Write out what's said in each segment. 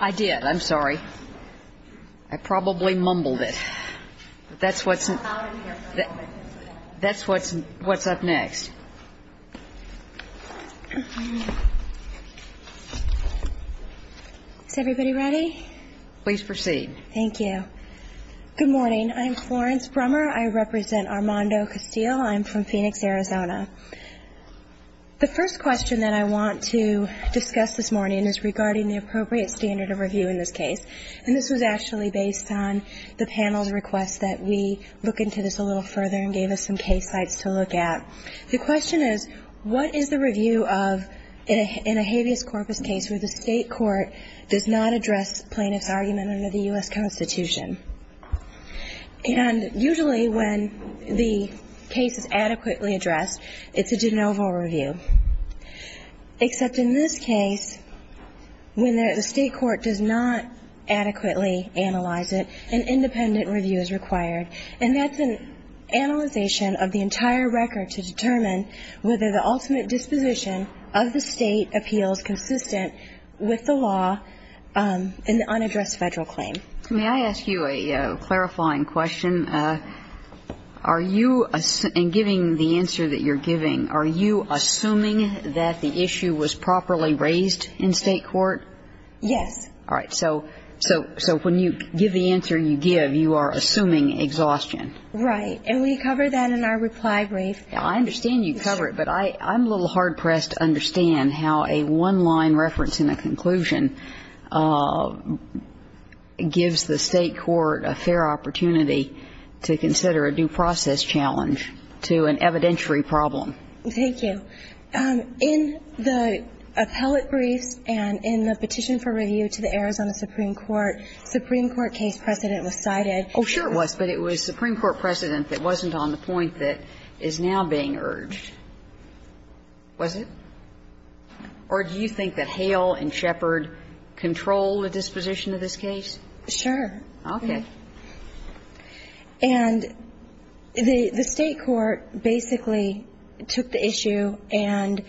I did, I'm sorry. I probably mumbled it. That's what's up next. Is everybody ready? Please proceed. Thank you. Good morning. I'm Florence Brummer. I represent Armando Castile. I'm from Phoenix, Arizona. The first question that I want to discuss this morning is regarding the appropriate standard of review in this case. And this was actually based on the panel's request that we look into this a little further and gave us some case sites to look at. The question is, what is the review of in a habeas corpus case where the state court does not address plaintiff's argument under the U.S. Constitution? And usually when the case is adequately addressed, it's a de novo review. Except in this case, when the state court does not adequately analyze it, an independent review is required. And that's an analyzation of the entire record to determine whether the ultimate disposition of the state appeals consistent with the law in the unaddressed federal claim. May I ask you a clarifying question? Are you, in giving the answer that you're giving, are you assuming that the issue was properly raised in state court? Yes. All right. So when you give the answer you give, you are assuming exhaustion. Right. And we cover that in our reply brief. I understand you cover it, but I'm a little hard-pressed to understand how a one-line reference in a conclusion gives the state court a fair opportunity to consider a due process challenge to an evidentiary problem. Thank you. In the appellate briefs and in the petition for review to the Arizona Supreme Court, the Supreme Court case precedent was cited. Oh, sure it was. But it was Supreme Court precedent that wasn't on the point that is now being urged, was it? Or do you think that Hale and Shepard control the disposition of this case? Sure. Okay. And the state court basically took the issue and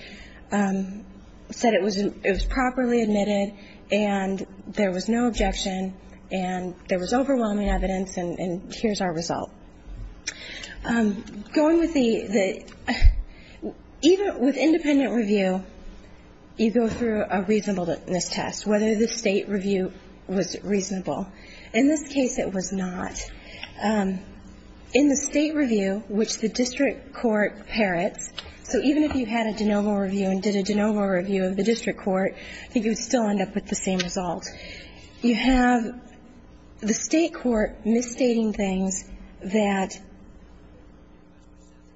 said it was properly admitted and there was no objection and there was overwhelming evidence and here's our result. Going with the, even with independent review, you go through a reasonableness test, whether the state review was reasonable. In this case, it was not. In the state review, which the district court parrots, so even if you had a de novo review and did a de novo review of the district court, I think you would still end up with the same result. You have the state court misstating things that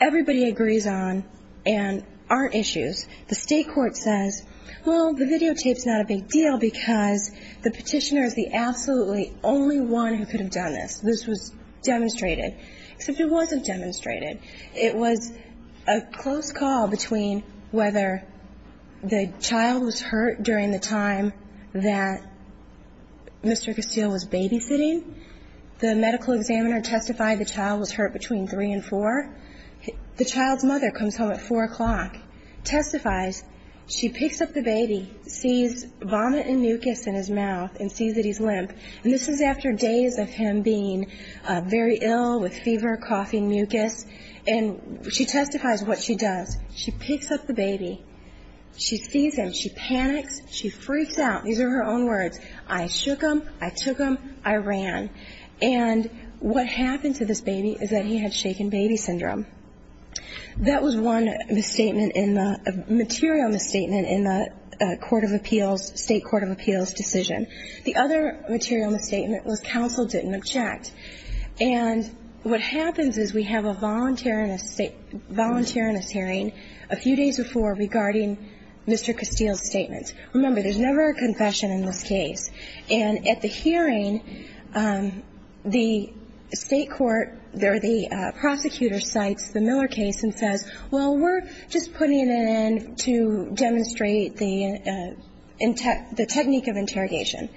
everybody agrees on and aren't issues. The state court says, well, the videotape's not a big deal because the petitioner is the absolutely only one who could have done this. This was demonstrated. Except it wasn't demonstrated. It was a close call between whether the child was hurt during the time that Mr. Castile was babysitting. The medical examiner testified the child was hurt between 3 and 4. The child's mother comes home at 4 o'clock, testifies. She picks up the baby, sees vomit and mucus in his mouth and sees that he's limp. And this is after days of him being very ill with fever, coughing, mucus, and she testifies what she does. She picks up the baby. She sees him. She panics. She freaks out. These are her own words. I shook him. I took him. I ran. And what happened to this baby is that he had shaken baby syndrome. That was one material misstatement in the state court of appeals decision. The other material misstatement was counsel didn't object. And what happens is we have a voluntariness hearing a few days before regarding Mr. Castile's statement. Remember, there's never a confession in this case. And at the hearing, the state court or the prosecutor cites the Miller case and says, well, we're just putting it in to demonstrate the technique of interrogation.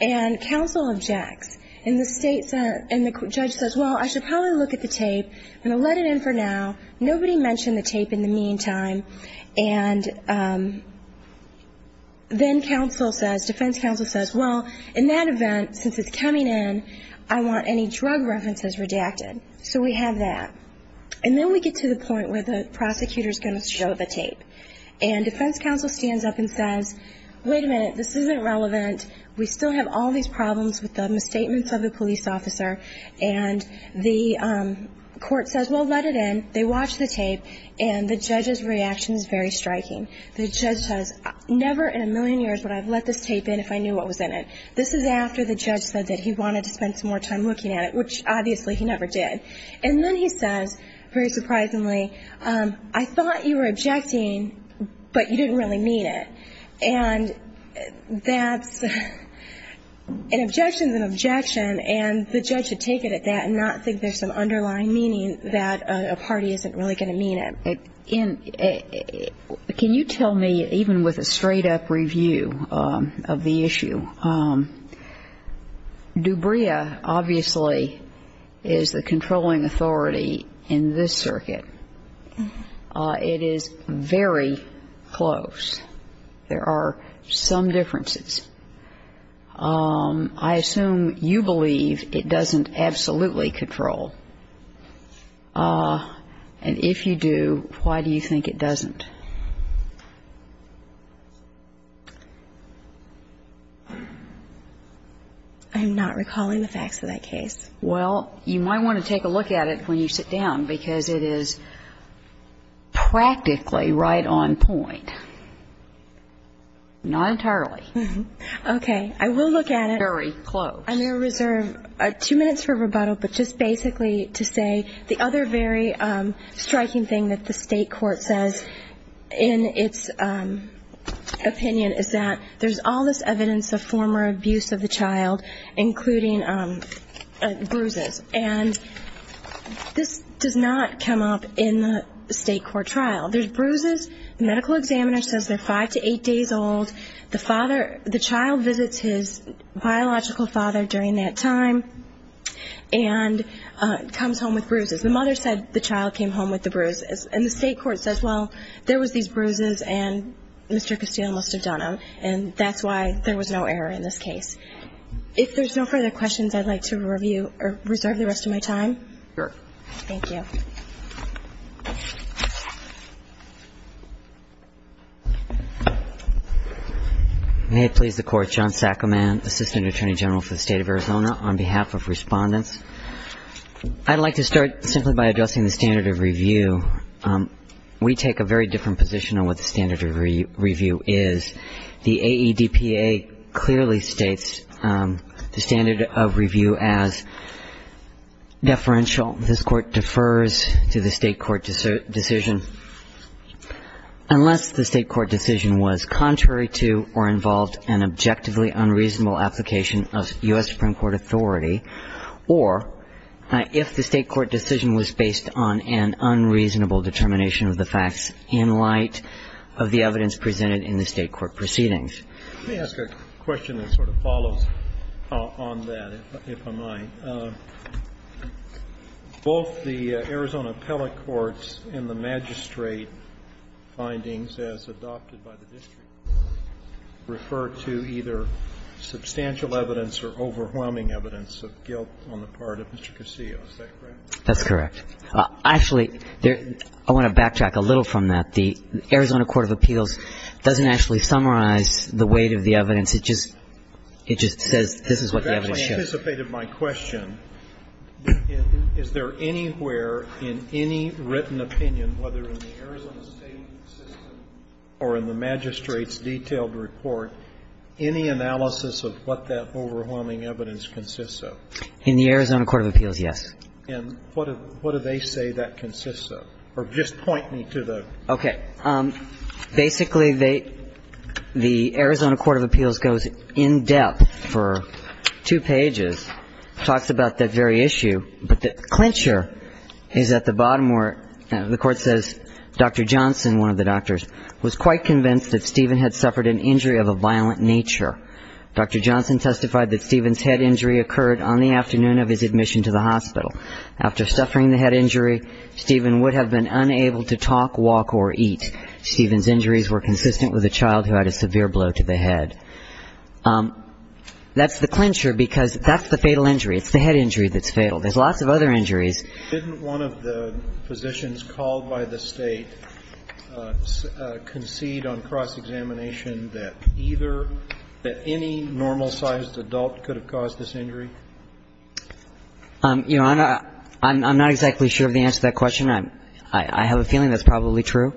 And counsel objects. And the judge says, well, I should probably look at the tape. I'm going to let it in for now. Nobody mentioned the tape in the meantime. And then defense counsel says, well, in that event, since it's coming in, I want any drug references redacted. So we have that. And then we get to the point where the prosecutor is going to show the tape. And defense counsel stands up and says, wait a minute, this isn't relevant. We still have all these problems with the misstatements of the police officer. And the court says, well, let it in. They watch the tape. And the judge's reaction is very striking. The judge says, never in a million years would I have let this tape in if I knew what was in it. This is after the judge said that he wanted to spend some more time looking at it, which obviously he never did. And then he says, very surprisingly, I thought you were objecting, but you didn't really mean it. And that's an objection is an objection. And the judge should take it at that and not think there's some underlying meaning that a party isn't really going to mean it. Can you tell me, even with a straight-up review of the issue, Dubria obviously is the controlling authority in this circuit. It is very close. There are some differences. I assume you believe it doesn't absolutely control. And if you do, why do you think it doesn't? I'm not recalling the facts of that case. Well, you might want to take a look at it when you sit down, because it is practically right on point. Not entirely. Okay. I will look at it. Very close. I'm going to reserve two minutes for rebuttal, but just basically to say the other very striking thing that the state court says in its opinion is that there's all this evidence of former abuse of the child, including bruises. And this does not come up in the state court trial. There's bruises. The medical examiner says they're five to eight days old. The child visits his biological father during that time and comes home with bruises. The mother said the child came home with the bruises. And the state court says, well, there was these bruises and Mr. Castillo must have done them, and that's why there was no error in this case. If there's no further questions, I'd like to reserve the rest of my time. Thank you. May it please the Court. John Saccomand, Assistant Attorney General for the State of Arizona, on behalf of Respondents. I'd like to start simply by addressing the standard of review. We take a very different position on what the standard of review is. The AEDPA clearly states the standard of review as deferential. This Court defers to the state court decision unless the state court decision was contrary to or involved an objectively unreasonable application of U.S. Supreme Court authority, or if the state court decision was based on an unreasonable determination of the facts in light of the evidence presented in the state court proceedings. Let me ask a question that sort of follows on that, if I might. Both the Arizona appellate courts and the magistrate findings as adopted by the district refer to either substantial evidence or overwhelming evidence of guilt on the part of Mr. Castillo. Is that correct? That's correct. Actually, I want to backtrack a little from that. The Arizona Court of Appeals doesn't actually summarize the weight of the evidence. It just says this is what the evidence shows. You've actually anticipated my question. Is there anywhere in any written opinion, whether in the Arizona state system or in the magistrate's detailed report, any analysis of what that overwhelming evidence consists of? In the Arizona Court of Appeals, yes. And what do they say that consists of? Or just point me to the ---- Okay. Basically, they ---- the Arizona Court of Appeals goes in depth for two pages, talks about that very issue, but the clincher is at the bottom where the Court says, Dr. Johnson, one of the doctors, was quite convinced that Stephen had suffered an injury of a violent nature. Dr. Johnson testified that Stephen's head injury occurred on the afternoon of his admission to the hospital. After suffering the head injury, Stephen would have been unable to talk, walk, or eat. Stephen's injuries were consistent with a child who had a severe blow to the head. That's the clincher because that's the fatal injury. It's the head injury that's fatal. There's lots of other injuries. Didn't one of the physicians called by the State concede on cross-examination Your Honor, I'm not exactly sure of the answer to that question. I have a feeling that's probably true.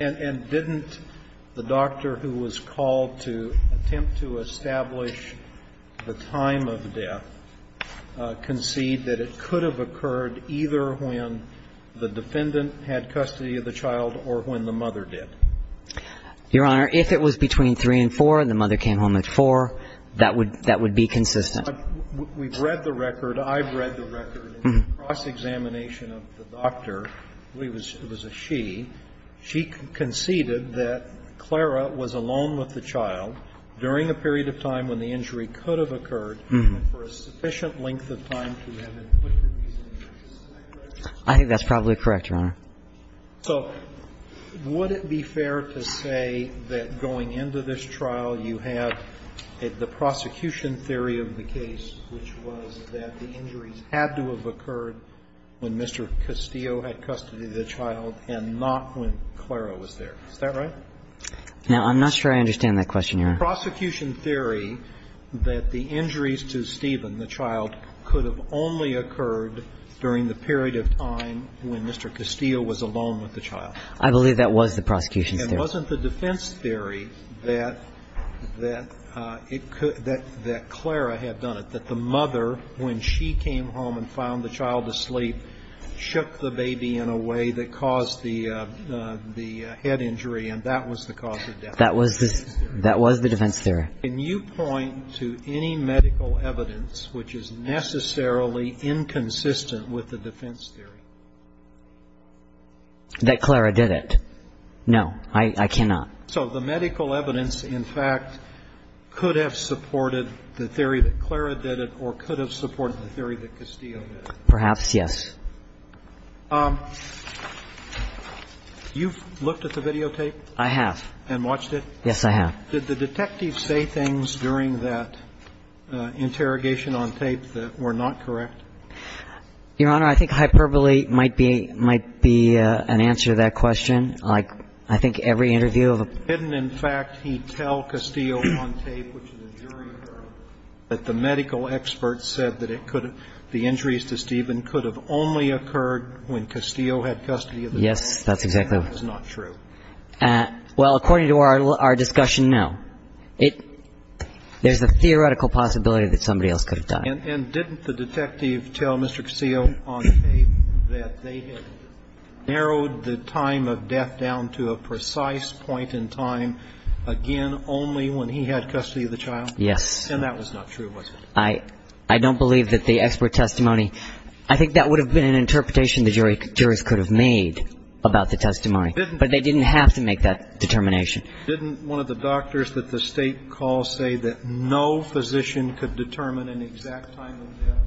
And didn't the doctor who was called to attempt to establish the time of death concede that it could have occurred either when the defendant had custody of the child or when the mother did? Your Honor, if it was between 3 and 4 and the mother came home at 4, that would be consistent. We've read the record. I've read the record. In the cross-examination of the doctor, it was a she, she conceded that Clara was alone with the child during a period of time when the injury could have occurred and for a sufficient length of time to have been put to these injuries. Is that correct? I think that's probably correct, Your Honor. So would it be fair to say that going into this trial you have the prosecution theory of the case, which was that the injuries had to have occurred when Mr. Castillo had custody of the child and not when Clara was there. Is that right? Now, I'm not sure I understand that question, Your Honor. The prosecution theory that the injuries to Stephen, the child, could have only occurred during the period of time when Mr. Castillo was alone with the child. I believe that was the prosecution theory. Wasn't the defense theory that Clara had done it, that the mother, when she came home and found the child asleep, shook the baby in a way that caused the head injury, and that was the cause of death? That was the defense theory. Can you point to any medical evidence which is necessarily inconsistent with the defense theory? That Clara did it. No. I cannot. So the medical evidence, in fact, could have supported the theory that Clara did it or could have supported the theory that Castillo did it. Perhaps, yes. You've looked at the videotape? I have. And watched it? Yes, I have. Did the detective say things during that interrogation on tape that were not correct? Your Honor, I think hyperbole might be an answer to that question. I think every interview of a ---- Didn't, in fact, he tell Castillo on tape, which is a jury error, that the medical experts said that the injuries to Stephen could have only occurred when Castillo had custody of the child? Yes, that's exactly right. And that was not true. Well, according to our discussion, no. There's a theoretical possibility that somebody else could have died. And didn't the detective tell Mr. Castillo on tape that they had narrowed the time of death down to a precise point in time, again, only when he had custody of the child? Yes. And that was not true, was it? I don't believe that the expert testimony ---- I think that would have been an interpretation the jurors could have made about the testimony. But they didn't have to make that determination. Didn't one of the doctors that the State called say that no physician could determine an exact time of death?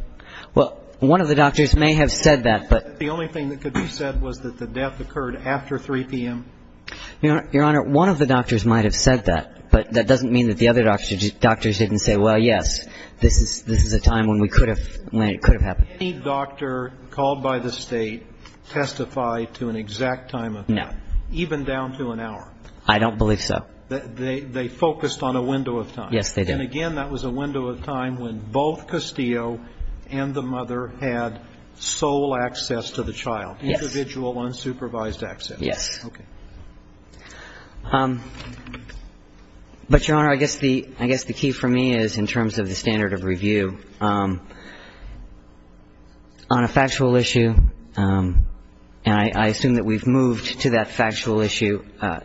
Well, one of the doctors may have said that, but ---- The only thing that could be said was that the death occurred after 3 p.m.? Your Honor, one of the doctors might have said that. But that doesn't mean that the other doctors didn't say, well, yes, this is a time when we could have ---- when it could have happened. Did any doctor called by the State testify to an exact time of death? No. Even down to an hour? I don't believe so. They focused on a window of time? Yes, they did. And again, that was a window of time when both Castillo and the mother had sole access to the child? Yes. Individual, unsupervised access? Yes. Okay. And I assume that we've moved to that factual issue. But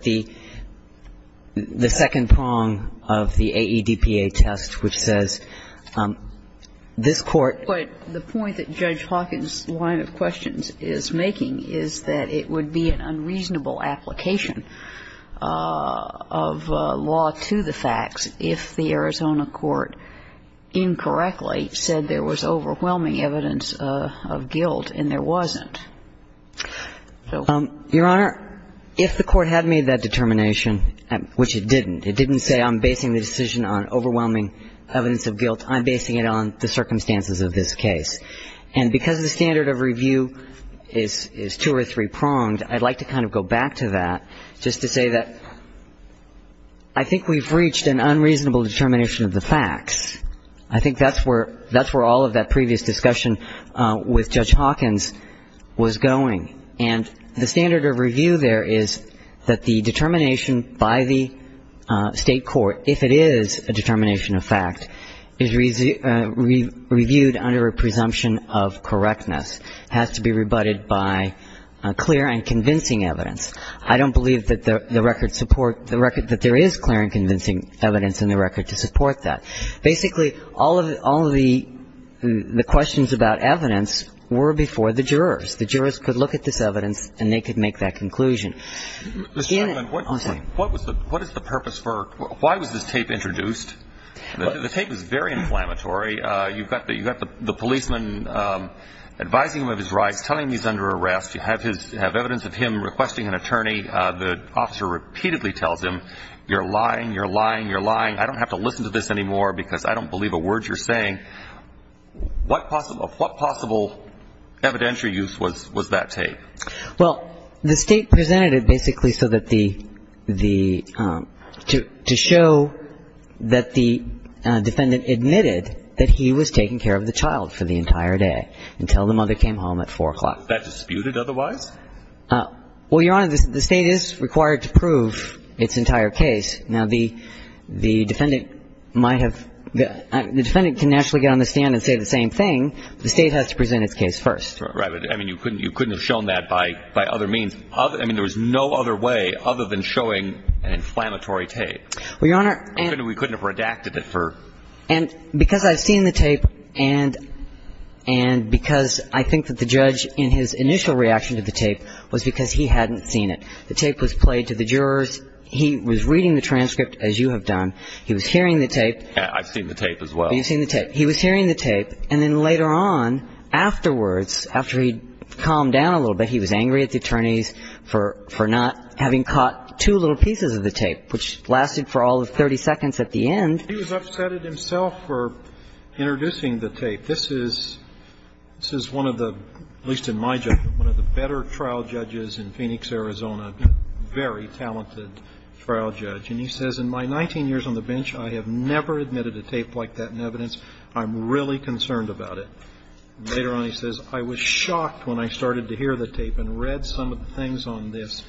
the second prong of the AEDPA test, which says this Court ---- But the point that Judge Hawkins' line of questions is making is that it would be an overwhelming evidence of guilt, and there wasn't. Your Honor, if the Court had made that determination, which it didn't, it didn't say I'm basing the decision on overwhelming evidence of guilt. I'm basing it on the circumstances of this case. And because the standard of review is two or three pronged, I'd like to kind of go back to that just to say that I think we've reached an unreasonable determination of the facts. I think that's where all of that previous discussion with Judge Hawkins was going. And the standard of review there is that the determination by the state court, if it is a determination of fact, is reviewed under a presumption of correctness, has to be rebutted by clear and convincing evidence. I don't believe that the record support the record that there is clear and convincing evidence in the record to support that. Basically, all of the questions about evidence were before the jurors. The jurors could look at this evidence, and they could make that conclusion. Mr. Chairman, what is the purpose for why was this tape introduced? The tape is very inflammatory. You've got the policeman advising him of his rights, telling him he's under arrest. You have evidence of him requesting an attorney. The officer repeatedly tells him, you're lying, you're lying, you're lying. I don't have to listen to this anymore because I don't believe a word you're saying. What possible evidentiary use was that tape? Well, the state presented it basically so that the ‑‑ to show that the defendant admitted that he was taking care of the child for the entire day until the mother came home at 4 o'clock. Was that disputed otherwise? Well, Your Honor, the state is required to prove its entire case. Now, the defendant might have ‑‑ the defendant can actually get on the stand and say the same thing, but the state has to present its case first. Right. But, I mean, you couldn't have shown that by other means. I mean, there was no other way other than showing an inflammatory tape. Well, Your Honor ‑‑ We couldn't have redacted it for ‑‑ And because I've seen the tape and because I think that the judge in his initial reaction to the tape was because he hadn't seen it. The tape was played to the jurors. He was reading the transcript, as you have done. He was hearing the tape. I've seen the tape as well. You've seen the tape. He was hearing the tape, and then later on, afterwards, after he'd calmed down a little bit, he was angry at the attorneys for not having caught two little pieces of the tape, which lasted for all of 30 seconds at the end. He was upset at himself for introducing the tape. This is one of the, at least in my judgment, one of the better trial judges in Phoenix, Arizona, very talented trial judge. And he says, In my 19 years on the bench, I have never admitted a tape like that in evidence. I'm really concerned about it. Later on, he says, I was shocked when I started to hear the tape and read some of the things on this,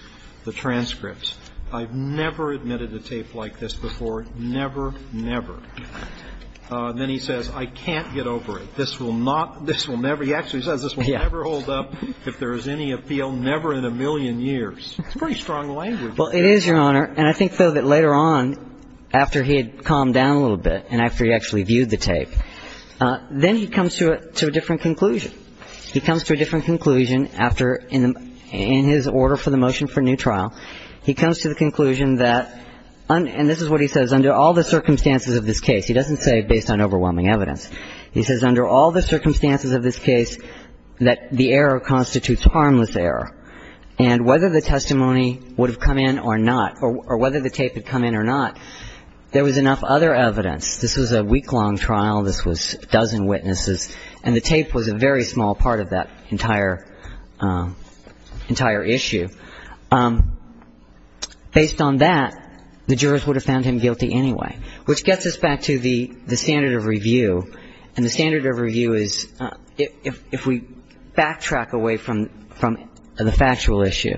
the transcripts. I've never admitted a tape like this before. Never, never. Then he says, I can't get over it. This will not ‑‑ this will never. He actually says, This will never hold up if there is any appeal, never in a million years. It's pretty strong language. Well, it is, Your Honor. And I think, though, that later on, after he had calmed down a little bit and after he actually viewed the tape, then he comes to a different conclusion. He comes to a different conclusion after, in his order for the motion for new trial, he comes to the conclusion that, and this is what he says, Under all the circumstances of this case, he doesn't say based on overwhelming evidence. He says, Under all the circumstances of this case, that the error constitutes harmless error. And whether the testimony would have come in or not, or whether the tape had come in or not, there was enough other evidence. This was a week‑long trial. This was a dozen witnesses. And the tape was a very small part of that entire issue. Based on that, the jurors would have found him guilty anyway, which gets us back to the standard of review. And the standard of review is, if we backtrack away from the factual issue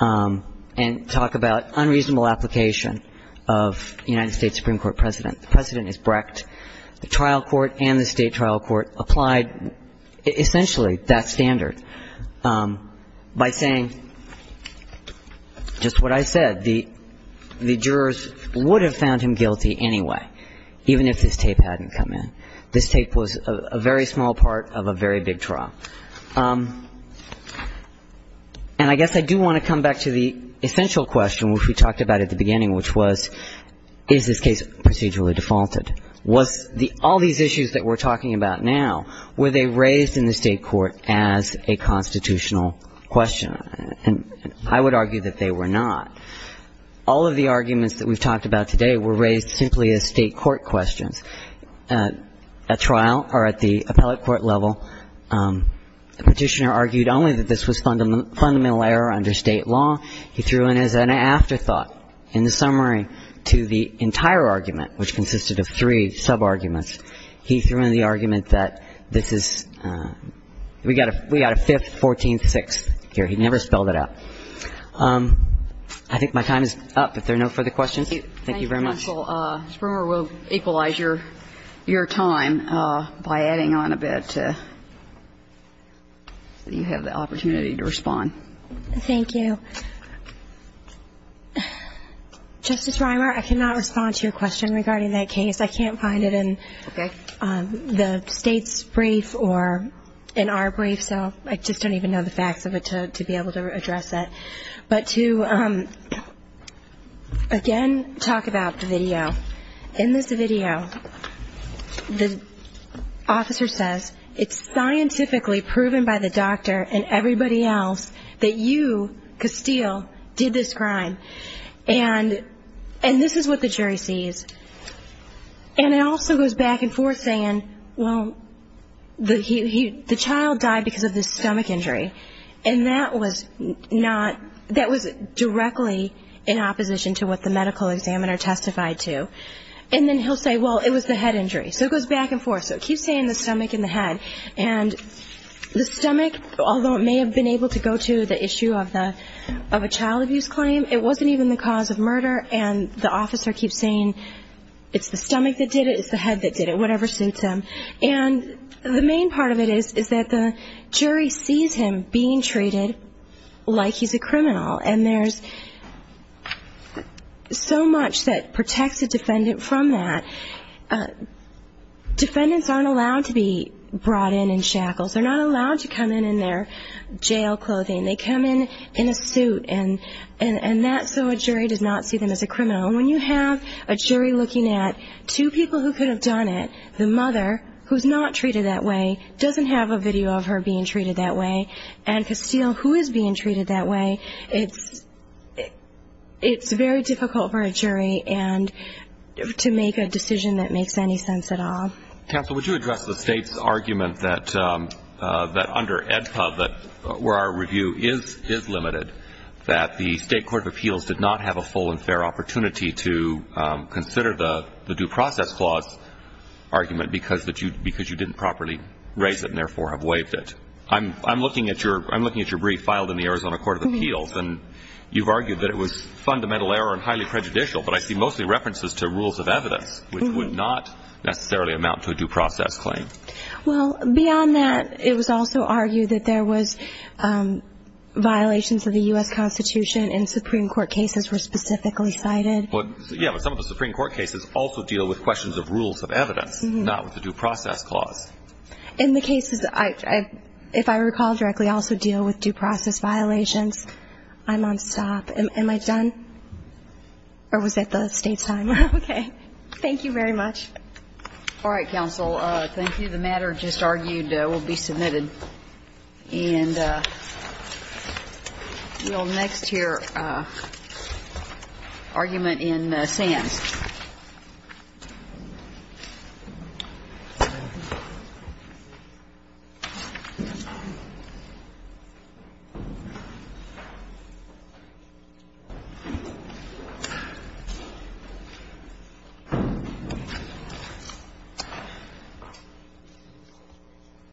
and talk about unreasonable application of the United States Supreme Court precedent, the precedent is Brecht. The trial court and the state trial court applied essentially that standard by saying just what I said. The jurors would have found him guilty anyway, even if this tape hadn't come in. This tape was a very small part of a very big trial. And I guess I do want to come back to the essential question, which we talked about at the beginning, which was, is this case procedurally defaulted? Was all these issues that we're talking about now, were they raised in the state court as a constitutional question? And I would argue that they were not. All of the arguments that we've talked about today were raised simply as state court questions. At trial or at the appellate court level, a petitioner argued only that this was fundamental error under state law. He threw in as an afterthought in the summary to the entire argument, which consisted of three subarguments. He threw in the argument that this is ‑‑ we got a fifth, 14th, sixth here. He never spelled it out. I think my time is up. If there are no further questions, thank you very much. Thank you, counsel. Ms. Brewer will equalize your time by adding on a bit so you have the opportunity to respond. Thank you. Justice Rimer, I cannot respond to your question regarding that case. I can't find it in the State's brief or in our brief, so I just don't even know the facts of it to be able to address it. But to, again, talk about the video. In this video, the officer says, it's scientifically proven by the doctor and everybody else that you, Castile, did this crime. And this is what the jury sees. And it also goes back and forth saying, well, the child died because of the stomach injury. And that was not ‑‑ that was directly in opposition to what the medical examiner testified to. And then he'll say, well, it was the head injury. So it goes back and forth. So it keeps saying the stomach and the head. And the stomach, although it may have been able to go to the issue of a child abuse claim, it wasn't even the cause of murder, and the officer keeps saying it's the stomach that did it, it's the head that did it, whatever suits him. And the main part of it is that the jury sees him being treated like he's a criminal. And there's so much that protects a defendant from that. Defendants aren't allowed to be brought in in shackles. They're not allowed to come in in their jail clothing. They come in in a suit, and that's so a jury does not see them as a criminal. And when you have a jury looking at two people who could have done it, the mother, who's not treated that way, doesn't have a video of her being treated that way, and Castile, who is being treated that way, it's very difficult for a jury to make a decision that makes any sense at all. Counsel, would you address the State's argument that under AEDPA, where our review is limited, that the State Court of Appeals did not have a full and fair opportunity to consider the due process clause argument because you didn't properly raise it and therefore have waived it? I'm looking at your brief filed in the Arizona Court of Appeals, and you've argued that it was fundamental error and highly prejudicial, but I see mostly references to rules of evidence, which would not necessarily amount to a due process claim. Well, beyond that, it was also argued that there was violations of the U.S. Constitution and Supreme Court cases were specifically cited. Yeah, but some of the Supreme Court cases also deal with questions of rules of evidence, not with the due process clause. And the cases, if I recall directly, also deal with due process violations. I'm on stop. Am I done? Or was that the State's time? Okay. Thank you very much. All right, counsel. Thank you. The matter just argued will be submitted. And we'll next hear argument in Sands.